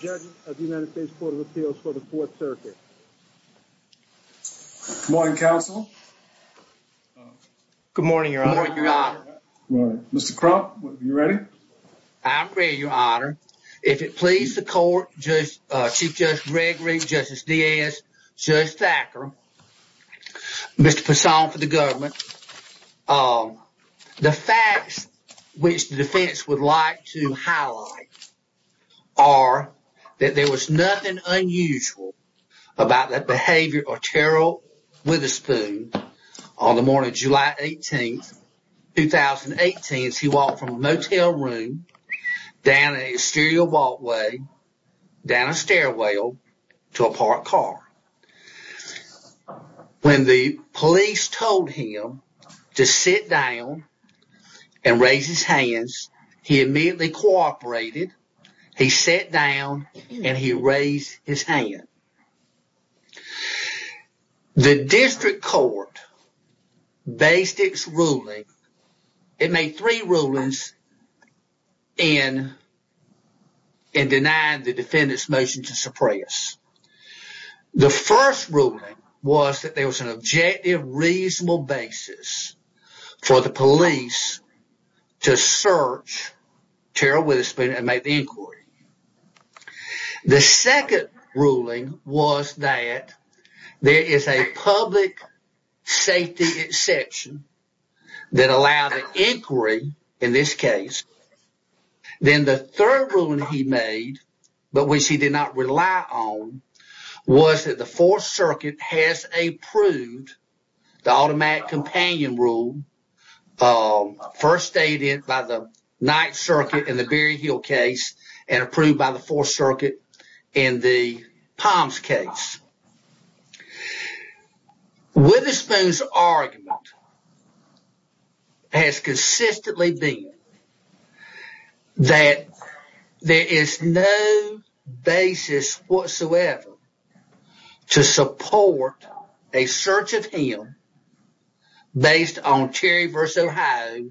Judge of the United States Court of Appeals for the Fourth Circuit. Good morning, Counsel. Good morning, Your Honor. Mr. Crump, are you ready? I'm ready, Your Honor. If it pleases the Court, Chief Judge Gregory, Justice Diaz, Judge Thacker, Mr. Passon for the government, The facts which the defense would like to highlight are that there was nothing unusual about the behavior of Terrill Witherspoon. On the morning of July 18, 2018, he walked from a motel room down an exterior walkway, down a stairwell, to a parked car. When the police told him to sit down and raise his hands, he immediately cooperated. He sat down and he raised his hand. The district court based its ruling, it made three rulings, in denying the defendant's motion to suppress. The first ruling was that there was an objective, reasonable basis for the police to search Terrill Witherspoon and make the inquiry. The second ruling was that there is a public safety exception that allowed the inquiry in this case. Then the third ruling he made, but which he did not rely on, was that the Fourth Circuit has approved the automatic companion rule, first stated by the Ninth Circuit in the Berry Hill case, and approved by the Fourth Circuit in the Palms case. Witherspoon's argument has consistently been that there is no basis whatsoever to support a search of him based on Terry v. Ohio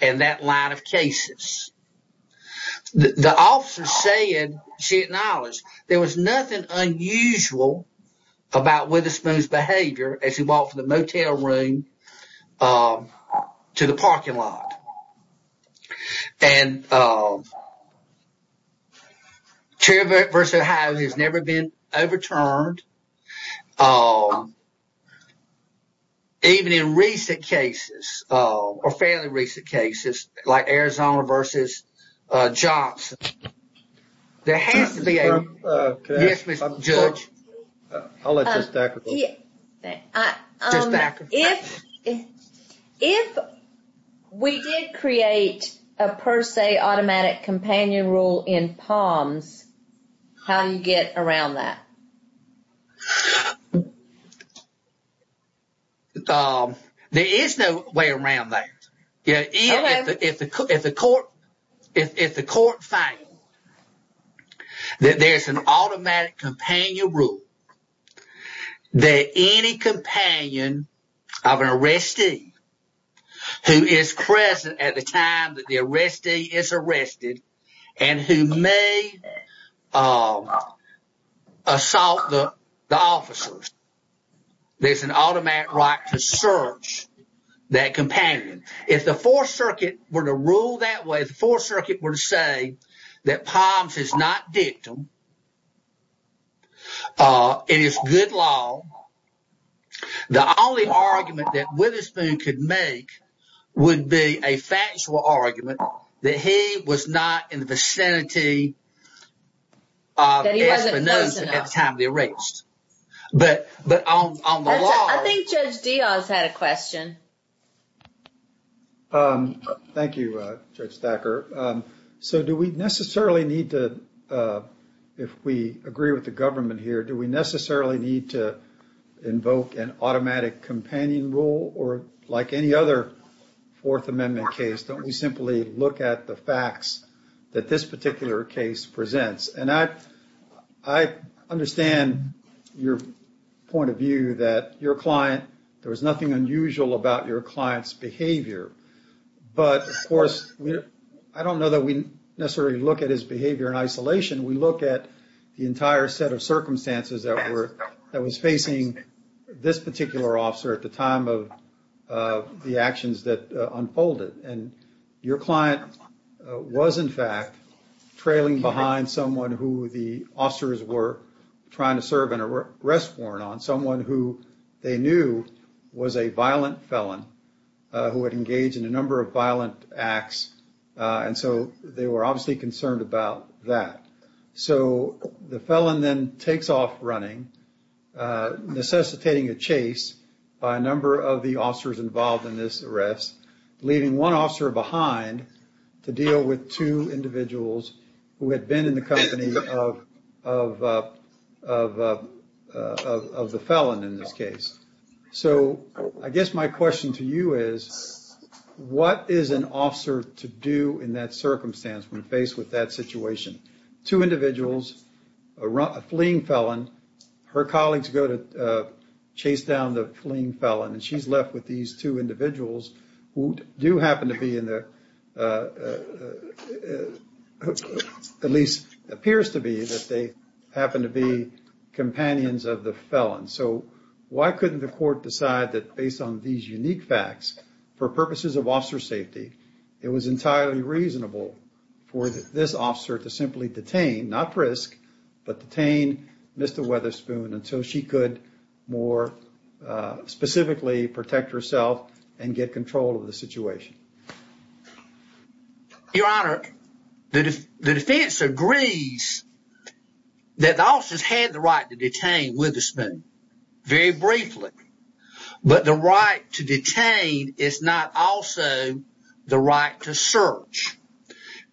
and that line of cases. The officer said, she acknowledged, there was nothing unusual about Witherspoon's behavior as he walked from the motel room to the parking lot. Terry v. Ohio has never been overturned, even in recent cases, or fairly recent cases, like Arizona v. Johnson. If we did create a per se automatic companion rule in Palms, how do you get around that? There is no way around that. If the court finds that there is an automatic companion rule, that any companion of an arrestee who is present at the time that the arrestee is arrested, and who may assault the officers, there is an automatic right to search that companion. If the Fourth Circuit were to rule that way, if the Fourth Circuit were to say that Palms is not victim, it is good law, the only argument that Witherspoon could make would be a factual argument that he was not in the vicinity of espionage at the time of the arrest. I think Judge Dioz had a question. Thank you, Judge Thacker. If we agree with the government here, do we necessarily need to invoke an automatic companion rule? Or like any other Fourth Amendment case, don't we simply look at the facts that this particular case presents? I understand your point of view that there was nothing unusual about your client's behavior. But of course, I don't know that we necessarily look at his behavior in isolation. We look at the entire set of circumstances that were facing this particular officer at the time of the actions that unfolded. Your client was, in fact, trailing behind someone who the officers were trying to serve an arrest warrant on, someone who they knew was a violent felon who had engaged in a number of violent acts. They were obviously concerned about that. The felon then takes off running, necessitating a chase by a number of the officers involved in this arrest, leaving one officer behind to deal with two individuals who had been in the company of the felon in this case. So I guess my question to you is, what is an officer to do in that circumstance when faced with that situation? Two individuals, a fleeing felon, her colleagues go to chase down the fleeing felon, and she's left with these two individuals who do happen to be, at least appears to be, companions of the felon. So why couldn't the court decide that based on these unique facts, for purposes of officer safety, it was entirely reasonable for this officer to simply detain, not frisk, but detain Mr. Weatherspoon until she could more specifically protect herself and get control of the situation? Your Honor, the defense agrees that the officers had the right to detain Weatherspoon, very briefly. But the right to detain is not also the right to search.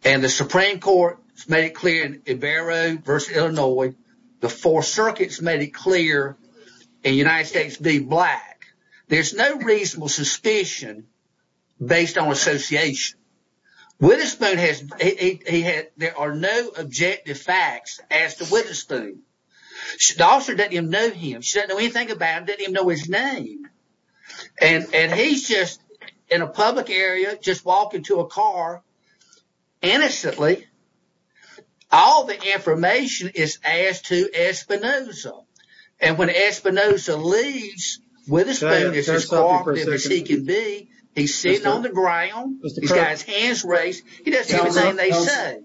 And the Supreme Court has made it clear in Ibarro v. Illinois, the Fourth Circuit has made it clear in United States v. Black, there's no reasonable suspicion based on association. There are no objective facts as to Weatherspoon. The officer doesn't even know him. She doesn't know anything about him, doesn't even know his name. And he's just in a public area, just walking to a car, innocently. All the information is asked to Espinoza. And when Espinoza leaves, Weatherspoon is as cooperative as he can be. He's sitting on the ground, he's got his hands raised, he doesn't even know what they say.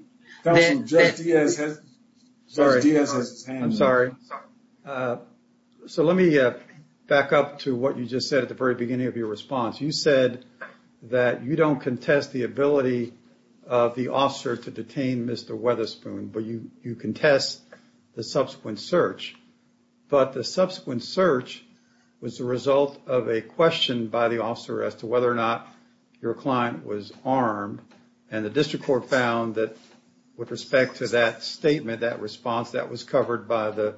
I'm sorry. So let me back up to what you just said at the very beginning of your response. You said that you don't contest the ability of the officer to detain Mr. Weatherspoon, but you contest the subsequent search. But the subsequent search was the result of a question by the officer as to whether or not your client was armed. And the district court found that with respect to that statement, that response, that was covered by the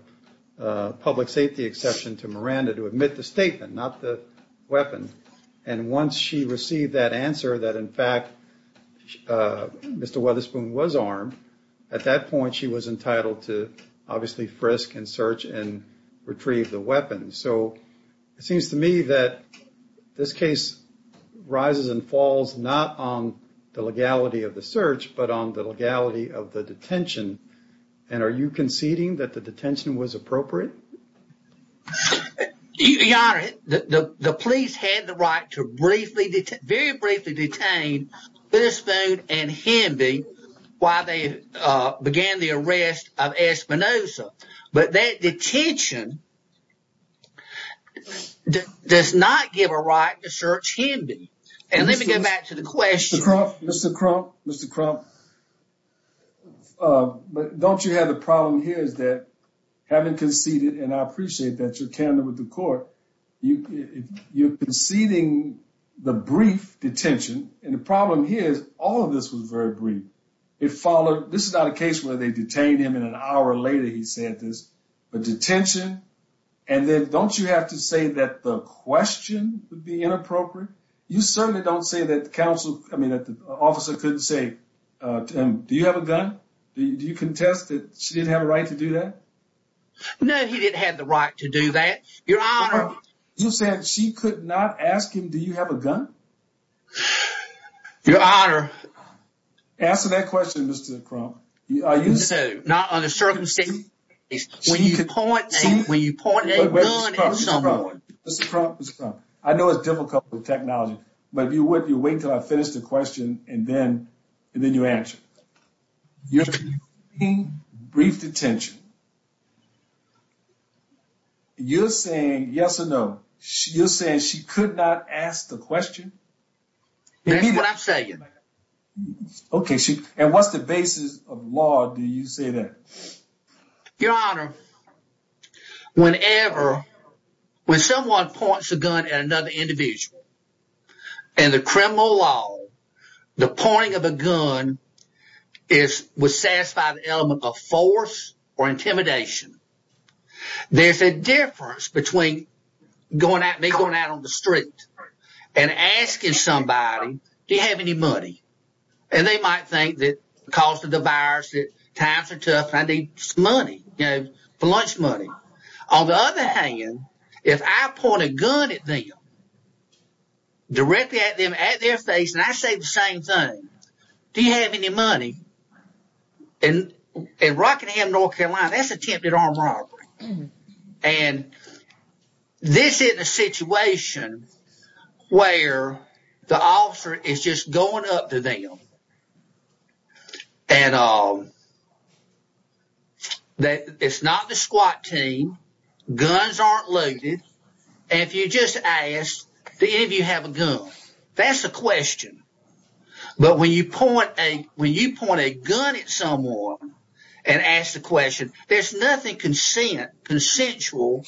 public safety exception to Miranda to admit the statement, not the weapon. And once she received that answer that, in fact, Mr. Weatherspoon was armed, at that point she was entitled to obviously frisk and search and retrieve the weapon. So it seems to me that this case rises and falls not on the legality of the search, but on the legality of the detention. And are you conceding that the detention was appropriate? Your Honor, the police had the right to briefly, very briefly detain Weatherspoon and Hemby while they began the arrest of Espinoza. But that detention does not give a right to search Hemby. And let me go back to the question. Mr. Crump, Mr. Crump, Mr. Crump, don't you have the problem here is that having conceded, and I appreciate that you're candid with the court, you're conceding the brief detention. And the problem here is all of this was very brief. This is not a case where they detained him and an hour later he said this. But detention, and then don't you have to say that the question would be inappropriate? You certainly don't say that the officer couldn't say, Tim, do you have a gun? Do you contest that she didn't have a right to do that? No, he didn't have the right to do that, Your Honor. You're saying she could not ask him, do you have a gun? Your Honor. Answer that question, Mr. Crump. Not under circumstances. When you point a gun at someone. Mr. Crump, Mr. Crump, I know it's difficult with technology, but if you wouldn't, you'd wait until I finished the question and then you answer. You're conceding brief detention. You're saying yes or no. You're saying she could not ask the question? That's what I'm saying. Okay, and what's the basis of law do you say that? Your Honor, whenever, when someone points a gun at another individual, in the criminal law, the pointing of a gun is, would satisfy the element of force or intimidation. There's a difference between me going out on the street and asking somebody, do you have any money? And they might think that because of the virus that times are tough and I need some money, you know, for lunch money. On the other hand, if I point a gun at them, directly at them, at their face, and I say the same thing, do you have any money? In Rockingham, North Carolina, that's attempted armed robbery. And this isn't a situation where the officer is just going up to them. And it's not the squat team, guns aren't loaded, and if you just ask, do any of you have a gun? That's a question. But when you point a gun at someone and ask the question, there's nothing consensual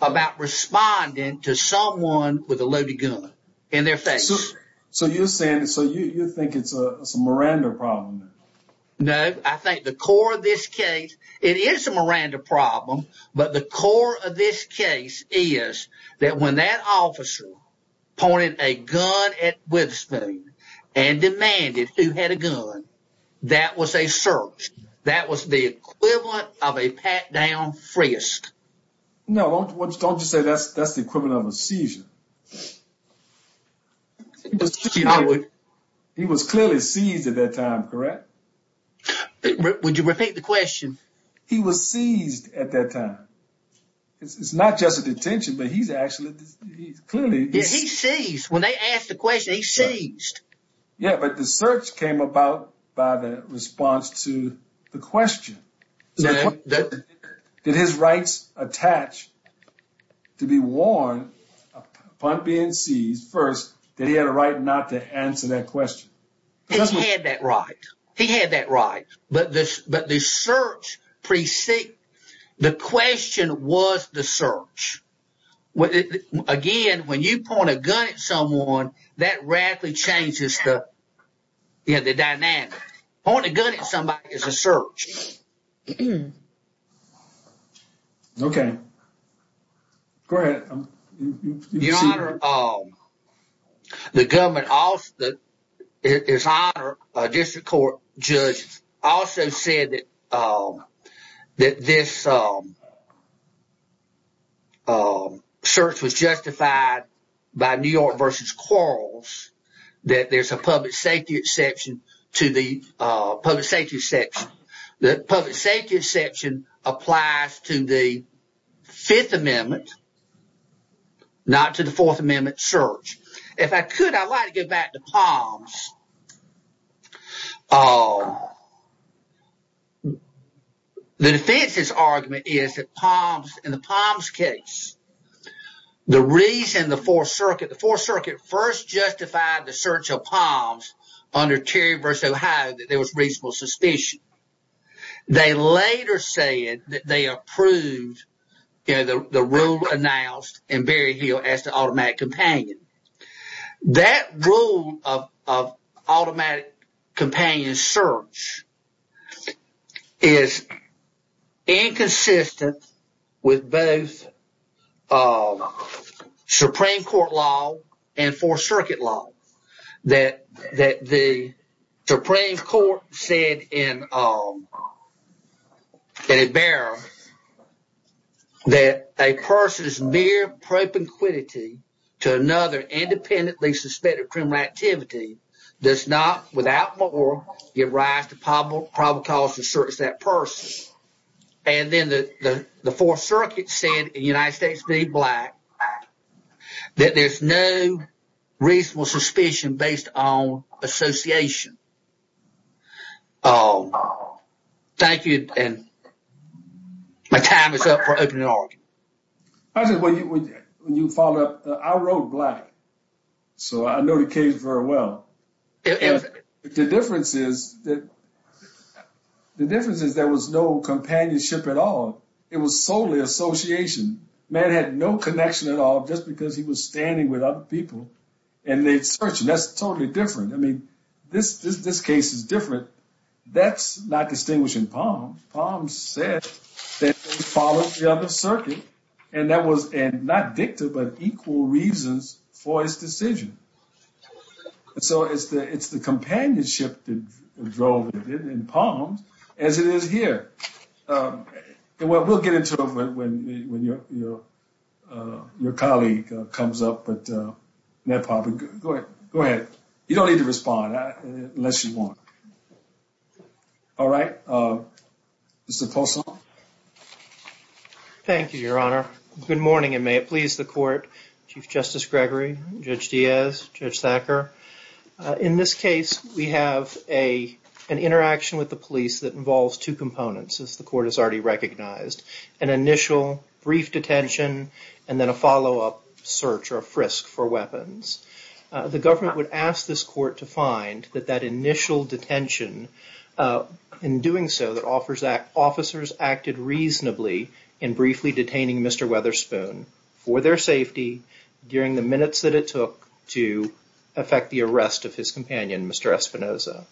about responding to someone with a loaded gun in their face. So you're saying, so you think it's a Miranda problem? No, I think the core of this case, it is a Miranda problem, but the core of this case is that when that officer pointed a gun at Witherspoon and demanded who had a gun, that was a search. That was the equivalent of a pat-down frisk. No, don't just say that's the equivalent of a seizure. He was clearly seized at that time, correct? Would you repeat the question? He was seized at that time. It's not just a detention, but he's actually clearly seized. He's seized. When they asked the question, he's seized. Yeah, but the search came about by the response to the question. Did his rights attach to be warned upon being seized, first, that he had a right not to answer that question? He had that right. He had that right. But the question was the search. Again, when you point a gun at someone, that radically changes the dynamic. Pointing a gun at somebody is a search. Okay. Go ahead. Your Honor, the district court judge also said that this search was justified by New York v. Quarles, that there's a public safety exception. The public safety exception applies to the Fifth Amendment, not to the Fourth Amendment search. If I could, I'd like to go back to Palms. The defense's argument is that in the Palms case, the reason the Fourth Circuit first justified the search of Palms under Terry v. Ohio, that there was reasonable suspicion. They later said that they approved the rule announced in Berryhill as the automatic companion. That rule of automatic companion search is inconsistent with both Supreme Court law and Fourth Circuit law. That the Supreme Court said in a bearer that a person's mere propinquity to another independently suspected criminal activity does not, without more, give rise to probable cause to search that person. And then the Fourth Circuit said in United States v. Black, that there's no reasonable suspicion based on association. Thank you, and my time is up for opening argument. When you followed up, I wrote Black, so I know the case very well. The difference is that there was no companionship at all. It was solely association. Man had no connection at all just because he was standing with other people and they'd search him. That's totally different. I mean, this case is different. That's not distinguishing Palms. Palms said that he followed the other circuit, and that was not dicta, but equal reasons for his decision. And so it's the companionship that drove it in Palms, as it is here. And we'll get into it when your colleague comes up, but go ahead. You don't need to respond unless you want. All right. Mr. Poulson. Thank you, Your Honor. Good morning, and may it please the court. Chief Justice Gregory, Judge Diaz, Judge Thacker. In this case, we have an interaction with the police that involves two components, as the court has already recognized, an initial brief detention and then a follow-up search or a frisk for weapons. The government would ask this court to find that that initial detention, in doing so, that offers that officers acted reasonably in briefly detaining Mr. Weatherspoon for their safety during the minutes that it took to effect the arrest of his companion, Mr. Espinoza.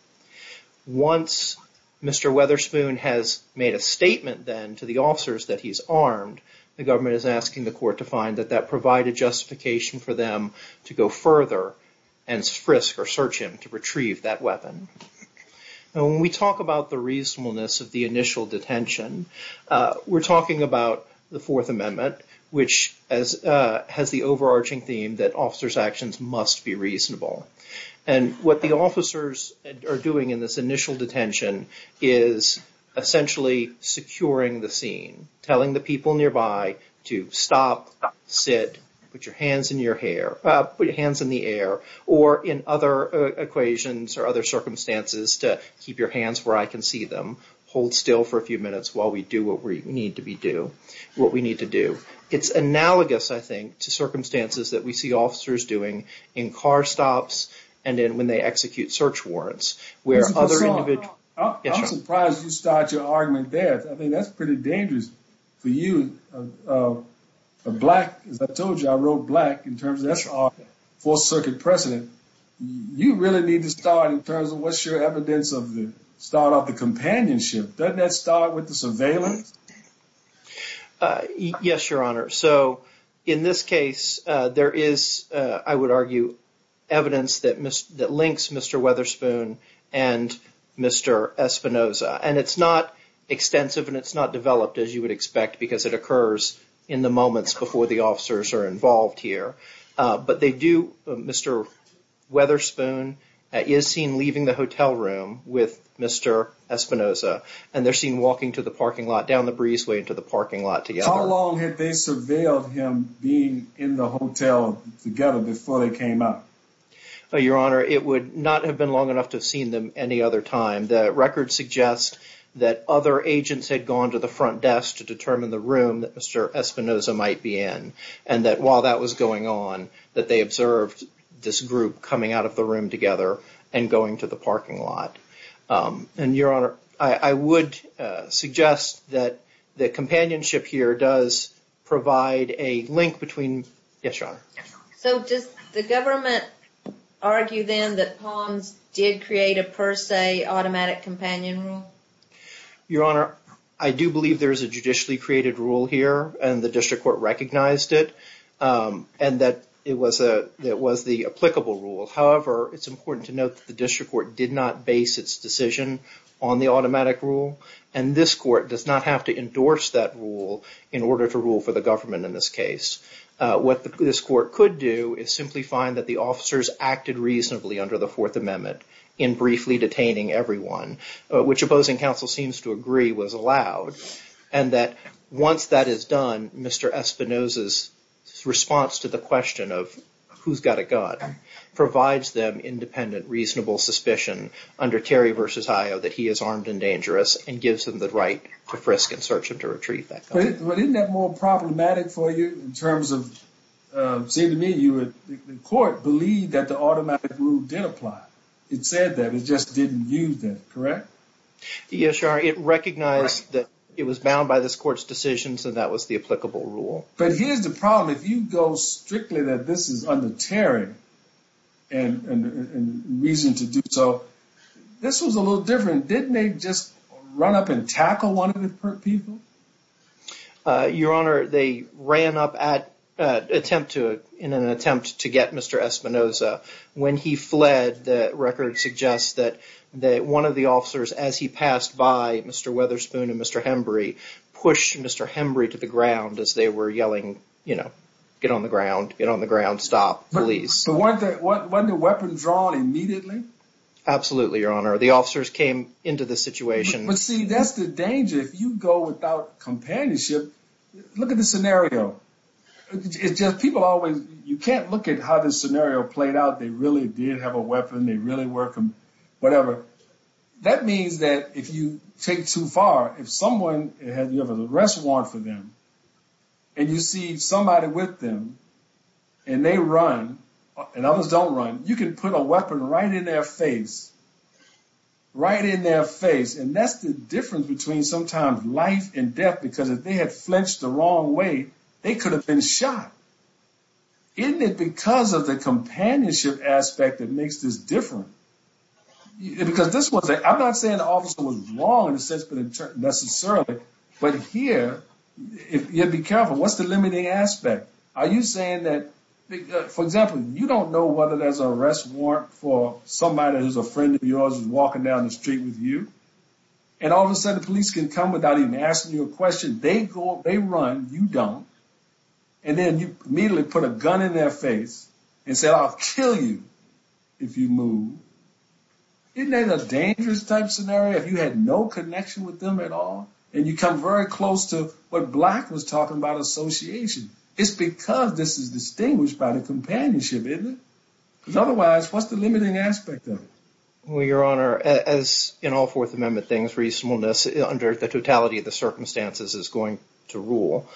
Once Mr. Weatherspoon has made a statement then to the officers that he's armed, the government is asking the court to find that that provided justification for them to go further and frisk or search him to retrieve that weapon. And when we talk about the reasonableness of the initial detention, we're talking about the Fourth Amendment, which has the overarching theme that officers' actions must be reasonable. And what the officers are doing in this initial detention is essentially securing the scene, telling the people nearby to stop, sit, put your hands in the air, or in other equations or other circumstances to keep your hands where I can see them, hold still for a few minutes while we do what we need to do. It's analogous, I think, to circumstances that we see officers doing in car stops and when they execute search warrants. I'm surprised you started your argument there. I think that's pretty dangerous for you. As I told you, I wrote black in terms of that's our Fourth Circuit precedent. You really need to start in terms of what's your evidence of the start of the companionship. Doesn't that start with the surveillance? Yes, Your Honor. So in this case, there is, I would argue, evidence that links Mr. Weatherspoon and Mr. Espinoza. And it's not extensive and it's not developed, as you would expect, because it occurs in the moments before the officers are involved here. But they do, Mr. Weatherspoon is seen leaving the hotel room with Mr. Espinoza, and they're seen walking to the parking lot, down the breezeway into the parking lot together. How long had they surveilled him being in the hotel together before they came up? Your Honor, it would not have been long enough to have seen them any other time. The record suggests that other agents had gone to the front desk to determine the room that Mr. Espinoza might be in, and that while that was going on, that they observed this group coming out of the room together and going to the parking lot. And, Your Honor, I would suggest that the companionship here does provide a link between... Yes, Your Honor. So does the government argue then that Palms did create a per se automatic companion rule? Your Honor, I do believe there is a judicially created rule here, and the district court recognized it, and that it was the applicable rule. However, it's important to note that the district court did not base its decision on the automatic rule, and this court does not have to endorse that rule in order to rule for the government in this case. What this court could do is simply find that the officers acted reasonably under the Fourth Amendment in briefly detaining everyone, which opposing counsel seems to agree was allowed, and that once that is done, Mr. Espinoza's response to the question of who's got a gun provides them independent, reasonable suspicion under Terry v. Haya that he is armed and dangerous and gives them the right to frisk and search him to retrieve that gun. But isn't that more problematic for you in terms of... It seemed to me the court believed that the automatic rule did apply. It said that, it just didn't use that, correct? Yes, Your Honor, it recognized that it was bound by this court's decision, so that was the applicable rule. But here's the problem. If you go strictly that this is under Terry and reason to do so, this was a little different. Didn't they just run up and tackle one of the people? Your Honor, they ran up in an attempt to get Mr. Espinoza. When he fled, the record suggests that one of the officers, as he passed by Mr. Weatherspoon and Mr. Hembury, pushed Mr. Hembury to the ground as they were yelling, you know, get on the ground, get on the ground, stop, police. Wasn't the weapon drawn immediately? Absolutely, Your Honor. The officers came into the situation... But see, that's the danger. If you go without companionship, look at the scenario. It's just people always, you can't look at how the scenario played out. They really did have a weapon. They really were, whatever. That means that if you take too far, if someone, you have an arrest warrant for them, and you see somebody with them, and they run, and others don't run, you can put a weapon right in their face. Right in their face. And that's the difference between sometimes life and death, because if they had flinched the wrong way, they could have been shot. Isn't it because of the companionship aspect that makes this different? Because this was a, I'm not saying the officer was wrong in a sense, but necessarily. But here, you have to be careful. What's the limiting aspect? Are you saying that, for example, you don't know whether there's an arrest warrant for somebody who's a friend of yours and walking down the street with you? And all of a sudden, the police can come without even asking you a question. They go, they run, you don't. And then you immediately put a gun in their face and say, I'll kill you if you move. Isn't that a dangerous type scenario if you had no connection with them at all? And you come very close to what Black was talking about, association. It's because this is distinguished by the companionship, isn't it? Because otherwise, what's the limiting aspect of it? Well, Your Honor, as in all Fourth Amendment things, reasonableness under the totality of the circumstances is going to rule.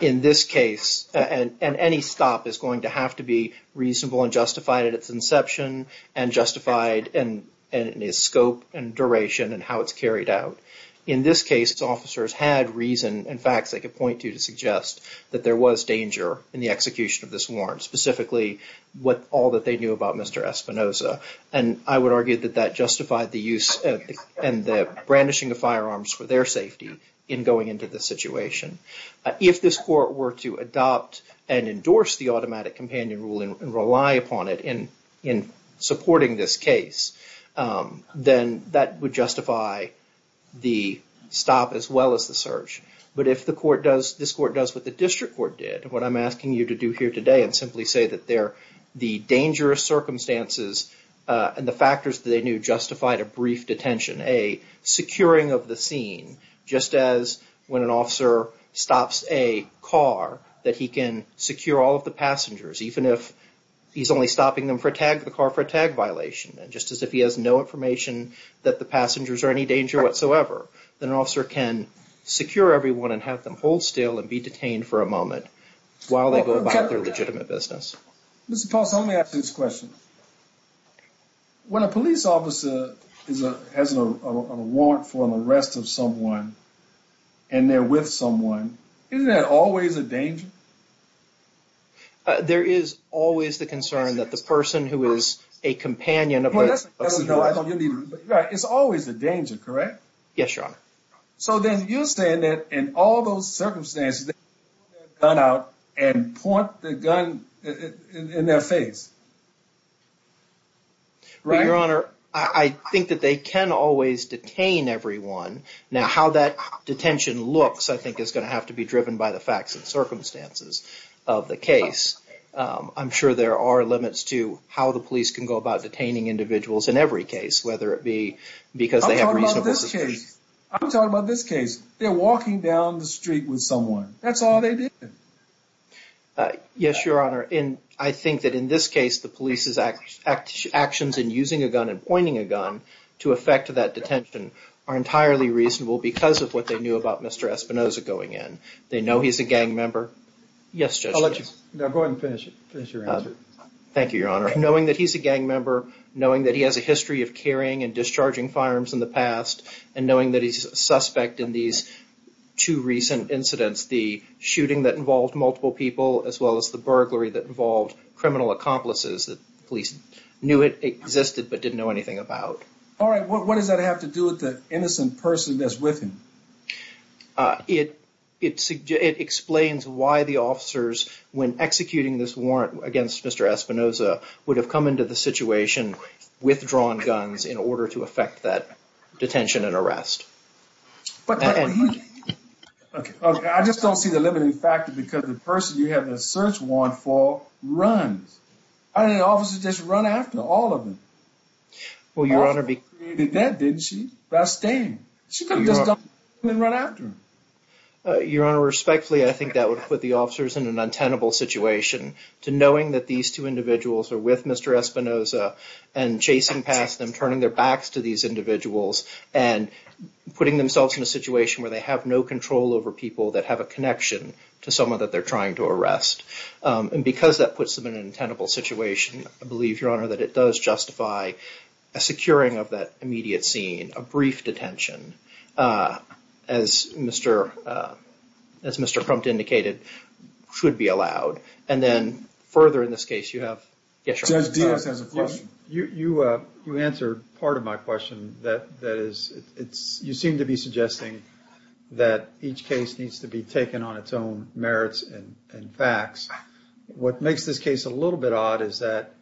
In this case, and any stop is going to have to be reasonable and justified at its inception and justified in its scope and duration and how it's carried out. In this case, officers had reason and facts they could point to to suggest that there was danger in the execution of this warrant, specifically all that they knew about Mr. Espinoza. And I would argue that that justified the use and the brandishing of firearms for their safety in going into the situation. If this court were to adopt and endorse the automatic companion rule and rely upon it in supporting this case, then that would justify the stop as well as the search. But if the court does, this court does what the district court did, and what I'm asking you to do here today and simply say that the dangerous circumstances and the factors that they knew justified a brief detention, a securing of the scene, just as when an officer stops a car, that he can secure all of the passengers, even if he's only stopping the car for a tag violation. And just as if he has no information that the passengers are any danger whatsoever, then an officer can secure everyone and have them hold still and be detained for a moment while they go about their legitimate business. Mr. Paulson, let me ask you this question. When a police officer has a warrant for an arrest of someone and they're with someone, isn't that always a danger? There is always the concern that the person who is a companion of the person— It's always a danger, correct? Yes, Your Honor. So then you're saying that in all those circumstances they can pull their gun out and point the gun in their face, right? Well, Your Honor, I think that they can always detain everyone. Now, how that detention looks, I think, is going to have to be driven by the facts and circumstances of the case. I'm sure there are limits to how the police can go about detaining individuals in every case, whether it be because they have reasonable suspicion. I'm talking about this case. They're walking down the street with someone. That's all they did. Yes, Your Honor. And I think that in this case, the police's actions in using a gun and pointing a gun to effect that detention are entirely reasonable because of what they knew about Mr. Espinoza going in. They know he's a gang member. Yes, Judge. Now, go ahead and finish your answer. Thank you, Your Honor. Knowing that he's a gang member, knowing that he has a history of carrying and discharging firearms in the past, and knowing that he's a suspect in these two recent incidents, the shooting that involved multiple people as well as the burglary that involved criminal accomplices that the police knew existed but didn't know anything about. All right. What does that have to do with the innocent person that's with him? It explains why the officers, when executing this warrant against Mr. Espinoza, would have come into the situation withdrawn guns in order to effect that detention and arrest. I just don't see the limiting factor because the person you have the search warrant for runs. I don't think the officers just run after all of them. Well, Your Honor, because— And then run after them. Your Honor, respectfully, I think that would put the officers in an untenable situation to knowing that these two individuals are with Mr. Espinoza and chasing past them, turning their backs to these individuals, and putting themselves in a situation where they have no control over people that have a connection to someone that they're trying to arrest. And because that puts them in an untenable situation, I believe, Your Honor, that it does justify a securing of that immediate scene, a brief detention, as Mr. Crump indicated, should be allowed. And then further in this case, you have— Judge Diaz has a question. You answered part of my question. That is, you seem to be suggesting that each case needs to be taken on its own merits and facts. What makes this case a little bit odd is that,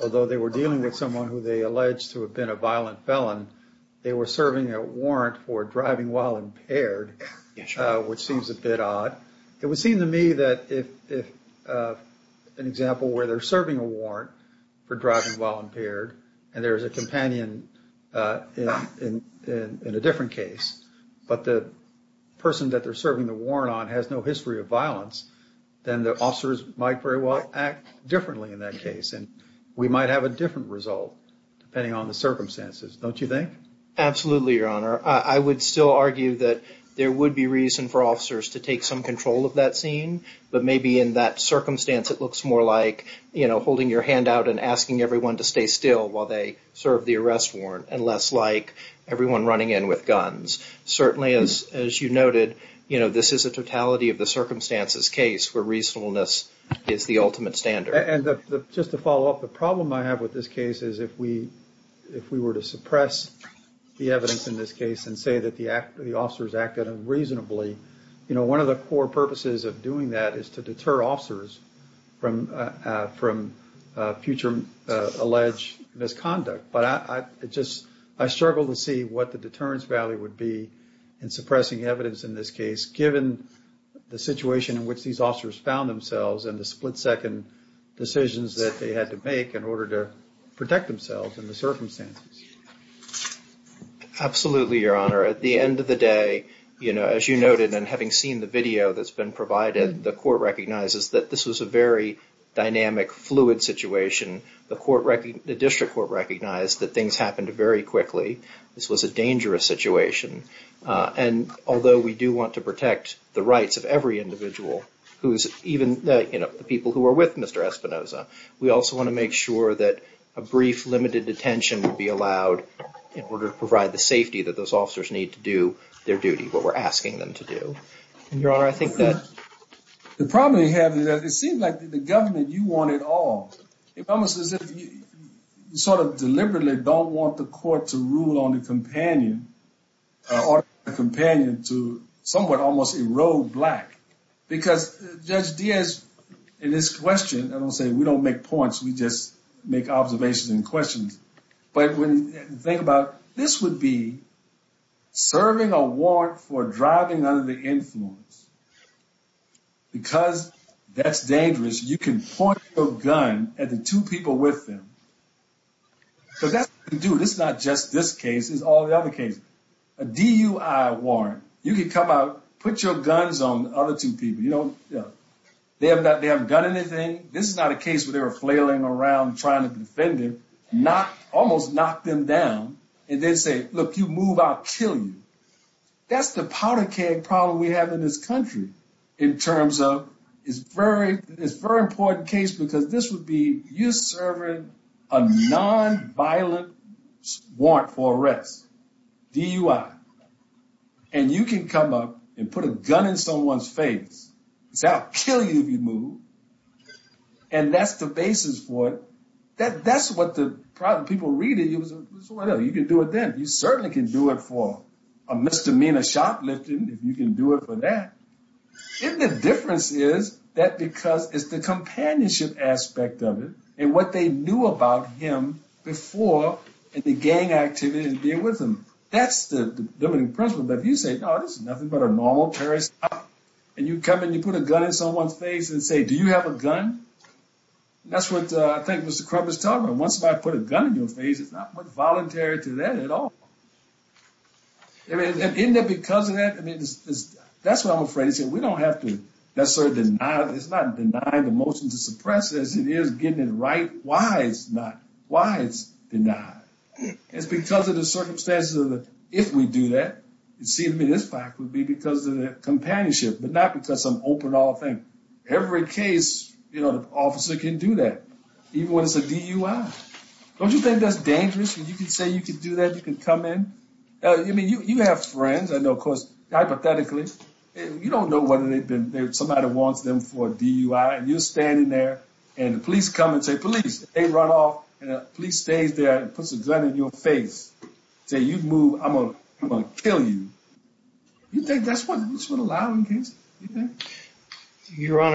although they were dealing with someone who they allege to have been a violent felon, they were serving a warrant for driving while impaired, which seems a bit odd. It would seem to me that if an example where they're serving a warrant for driving while impaired and there's a companion in a different case, but the person that they're serving the warrant on has no history of violence, then the officers might very well act differently in that case. And we might have a different result depending on the circumstances, don't you think? Absolutely, Your Honor. I would still argue that there would be reason for officers to take some control of that scene, but maybe in that circumstance it looks more like, you know, holding your hand out and asking everyone to stay still while they serve the arrest warrant and less like everyone running in with guns. Certainly, as you noted, you know, this is a totality of the circumstances case where reasonableness is the ultimate standard. And just to follow up, the problem I have with this case is if we were to suppress the evidence in this case and say that the officers acted unreasonably, you know, one of the core purposes of doing that is to deter officers from future alleged misconduct. But I struggle to see what the deterrence value would be in suppressing evidence in this case given the situation in which these officers found themselves and the split-second decisions that they had to make in order to protect themselves in the circumstances. Absolutely, Your Honor. At the end of the day, you know, as you noted and having seen the video that's been provided, the court recognizes that this was a very dynamic, fluid situation. The district court recognized that things happened very quickly. This was a dangerous situation. And although we do want to protect the rights of every individual, even the people who are with Mr. Espinoza, we also want to make sure that a brief limited detention would be allowed in order to provide the safety that those officers need to do their duty, what we're asking them to do. Your Honor, I think that... The problem we have is that it seems like the government, you want it all. It's almost as if you sort of deliberately don't want the court to rule on the companion or the companion to somewhat almost erode black. Because Judge Diaz in his question, I don't say we don't make points, we just make observations and questions. But when you think about this would be serving a warrant for driving under the influence. Because that's dangerous, you can point your gun at the two people with them. Because that's what you can do. This is not just this case, it's all the other cases. A DUI warrant, you can come out, put your guns on the other two people. You know, they haven't done anything. This is not a case where they were flailing around trying to defend him. Almost knock them down and then say, look, you move, I'll kill you. That's the powder keg problem we have in this country in terms of it's very important case because this would be you serving a nonviolent warrant for arrest, DUI. And you can come up and put a gun in someone's face and say, I'll kill you if you move. And that's the basis for it. That's what the problem, people read it, you can do it then. You certainly can do it for a misdemeanor shot lifting if you can do it for that. And the difference is that because it's the companionship aspect of it and what they knew about him before and the gang activity and deal with him. That's the limiting principle. But if you say, no, this is nothing but a normal terrorist act, and you come and you put a gun in someone's face and say, do you have a gun? That's what I think Mr. Crubb is talking about. Once I put a gun in your face, it's not voluntary to that at all. And isn't it because of that? That's what I'm afraid. We don't have to sort of deny it. It's not denying the motion to suppress it as it is getting it right. Why is it not? Why is it denied? It's because of the circumstances of it. If we do that, see, this fact would be because of the companionship, but not because of some open all thing. Every case, you know, the officer can do that, even when it's a DUI. Don't you think that's dangerous when you can say you can do that, you can come in? I mean, you have friends, I know, of course, hypothetically, and you don't know whether somebody wants them for a DUI, and you're standing there and the police come and say, police, they run off, and the police stays there and puts a gun in your face and say, you move, I'm going to kill you. You think that's what's allowed in cases? Why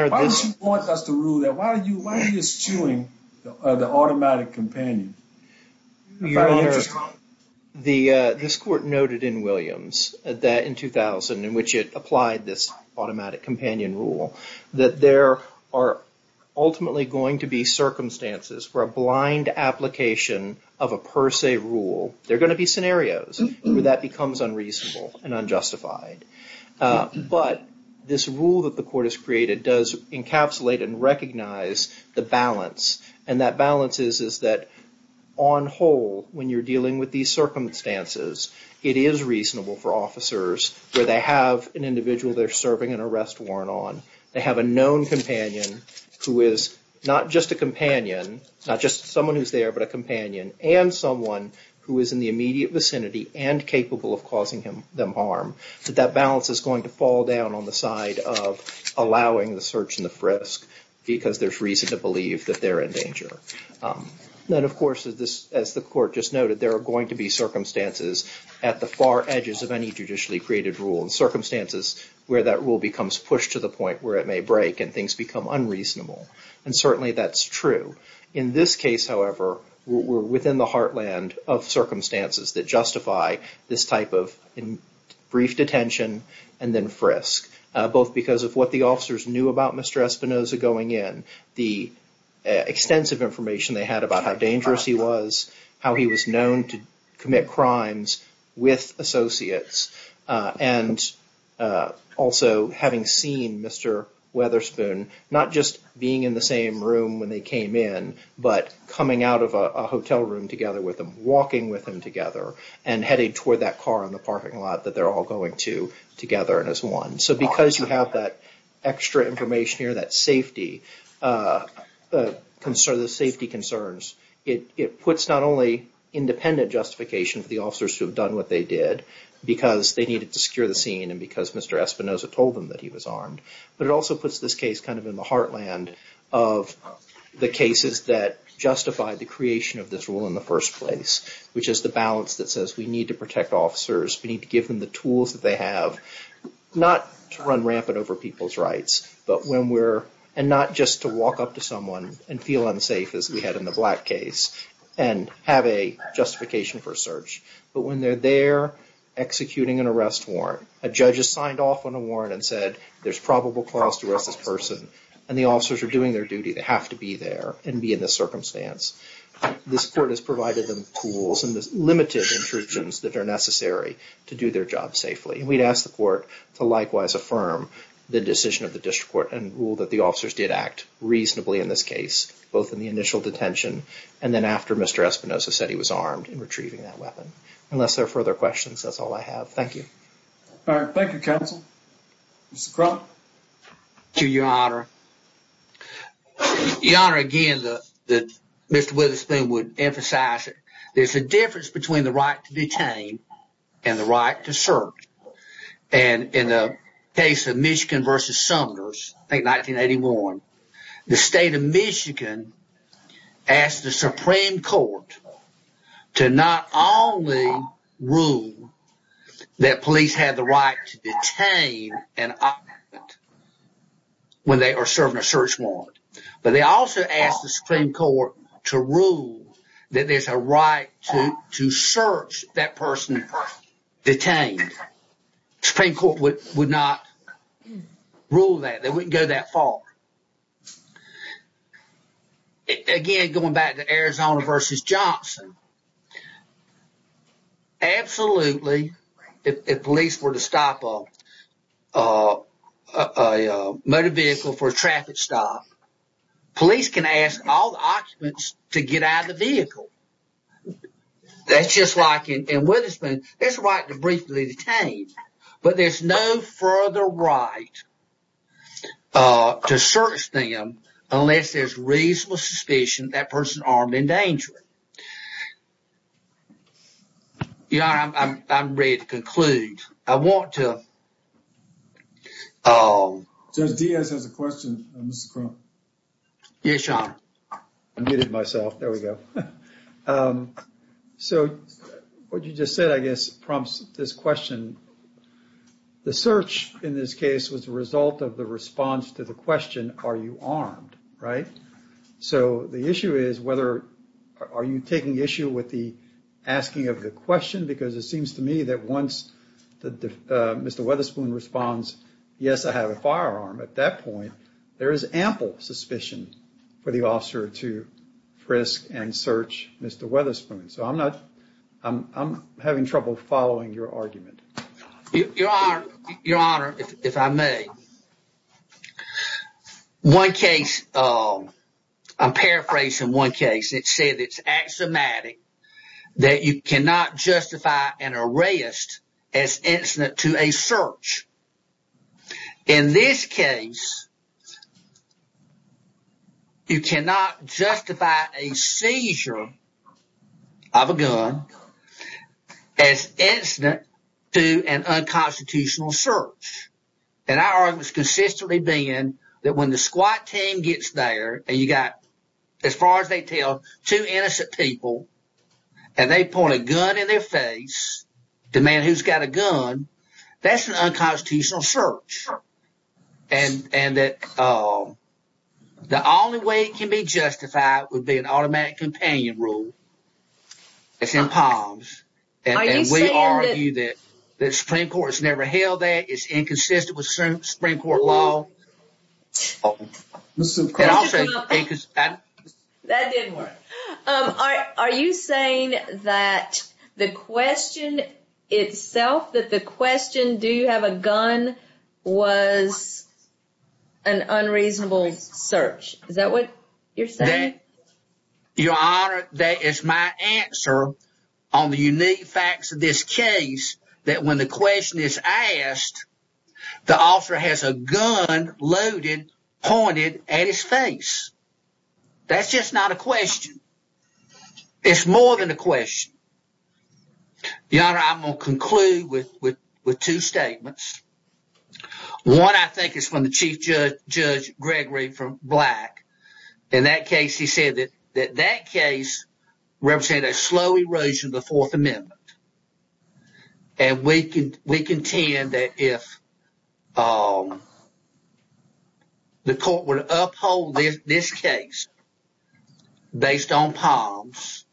don't you want us to rule that? Why are you eschewing the automatic companion? Your Honor, this court noted in Williams that in 2000, in which it applied this automatic companion rule, that there are ultimately going to be circumstances where a blind application of a per se rule, there are going to be scenarios where that becomes unreasonable and unjustified. But this rule that the court has created does encapsulate and recognize the balance, and that balance is that on hold when you're dealing with these circumstances, it is reasonable for officers where they have an individual they're serving an arrest warrant on, they have a known companion who is not just a companion, not just someone who's there, but a companion, and someone who is in the immediate vicinity and capable of causing them harm, that that balance is going to fall down on the side of allowing the search and the frisk, because there's reason to believe that they're in danger. Then, of course, as the court just noted, there are going to be circumstances at the far edges of any judicially created rule, and circumstances where that rule becomes pushed to the point where it may break and things become unreasonable, and certainly that's true. In this case, however, we're within the heartland of circumstances that justify this type of brief detention and then frisk, both because of what the officers knew about Mr. Espinoza going in, the extensive information they had about how dangerous he was, how he was known to commit crimes with associates, and also having seen Mr. Weatherspoon not just being in the same room when they came in, but coming out of a hotel room together with him, walking with him together, and heading toward that car in the parking lot that they're all going to together as one. So because you have that extra information here, that safety, the safety concerns, it puts not only independent justification for the officers who have done what they did, because they needed to secure the scene and because Mr. Espinoza told them that he was armed, but it also puts this case kind of in the heartland of the cases that justify the creation of this rule in the first place, which is the balance that says we need to protect officers, we need to give them the tools that they have, not to run rampant over people's rights, and not just to walk up to someone and feel unsafe in that case and have a justification for search, but when they're there executing an arrest warrant, a judge has signed off on a warrant and said there's probable cause to arrest this person, and the officers are doing their duty to have to be there and be in this circumstance. This court has provided them tools and the limited intrusions that are necessary to do their job safely, and we'd ask the court to likewise affirm the decision of the district court and rule that the officers did act reasonably in this case, both in the initial detention and then after Mr. Espinoza said he was armed in retrieving that weapon. Unless there are further questions, that's all I have. Thank you. Thank you, counsel. Mr. Crump? Thank you, Your Honor. Your Honor, again, Mr. Witherspoon would emphasize that there's a difference between the right to detain and the right to search, and in the case of Michigan v. Sumners, I think 1981, the state of Michigan asked the Supreme Court to not only rule that police have the right to detain an opponent when they are serving a search warrant, but they also asked the Supreme Court to rule that there's a right to search that person detained. The Supreme Court would not rule that. They wouldn't go that far. Again, going back to Arizona v. Johnson, absolutely, if police were to stop a motor vehicle for a traffic stop, police can ask all the occupants to get out of the vehicle. That's just like in Witherspoon. There's a right to briefly detain, but there's no further right to search them unless there's reasonable suspicion that person is armed and dangerous. Your Honor, I'm ready to conclude. I want to... Judge Diaz has a question, Mr. Crump. Yes, Your Honor. So what you just said, I guess, prompts this question. The search in this case was a result of the response to the question, are you armed, right? So the issue is, are you taking issue with the asking of the question? Because it seems to me that once Mr. Witherspoon responds, yes, I have a firearm at that point, there is ample suspicion for the officer to frisk and search Mr. Witherspoon. So I'm having trouble following your argument. Your Honor, if I may, one case... I'm paraphrasing one case. It said it's axiomatic that you cannot justify an arrest as incident to a search. In this case, you cannot justify a seizure of a gun as incident to an unconstitutional search. And our argument's consistently been that when the S.Q.U.A.T. team gets there, and you got, as far as they tell, two innocent people, and they point a gun in their face, demand who's got a gun, that's an unconstitutional search. The only way it can be justified would be an automatic companion rule. It's in POMS, and we argue that the Supreme Court has never held that. It's inconsistent with Supreme Court law. That didn't work. Are you saying that the question itself, that the question, do you have a gun, was an unreasonable search? Is that what you're saying? Your Honor, that is my answer on the unique facts of this case, that when the question is asked, the officer has a gun loaded, pointed at his face. That's just not a question. It's more than a question. Your Honor, I'm going to conclude with two statements. One, I think, is from the Chief Judge Gregory Black. In that case, he said that that case represented a slow erosion of the Fourth Amendment. We contend that if the court would uphold this case based on POMS,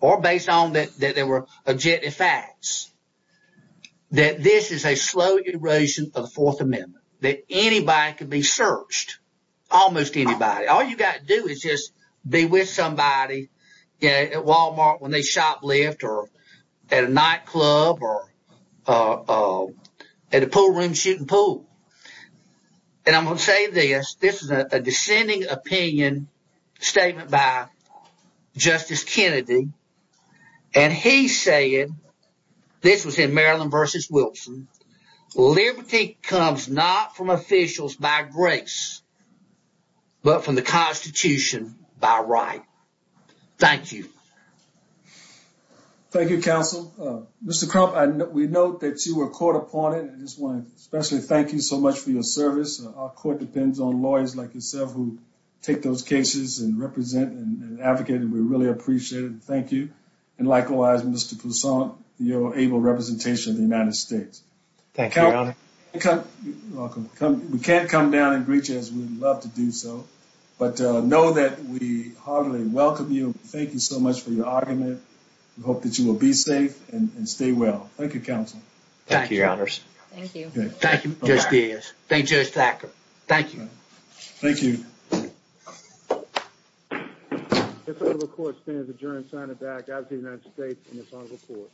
or based on that there were objective facts, that this is a slow erosion of the Fourth Amendment, that anybody could be searched, almost anybody. All you've got to do is just be with somebody at Walmart when they shoplift, or at a nightclub, or at a poolroom shooting pool. And I'm going to say this, this is a dissenting opinion statement by Justice Kennedy, and he said, this was in Maryland v. Wilson, liberty comes not from officials by grace, but from the Constitution by right. Thank you. Thank you, Counsel. Mr. Crump, we note that you were caught upon it. I just want to especially thank you so much for your service. Our court depends on lawyers like yourself who take those cases and represent and advocate, and we really appreciate it. Thank you. And likewise, Mr. Poussaint, your able representation of the United States. We can't come down and greet you as we would love to do so, but know that we heartily welcome you. Thank you so much for your argument. We hope that you will be safe and stay well. Thank you, Counsel. Thank you, Your Honors. Thank you, Judge Diaz. Thank you, Judge Thacker. Thank you. The court stands adjourned. Signing back out to the United States and its own report.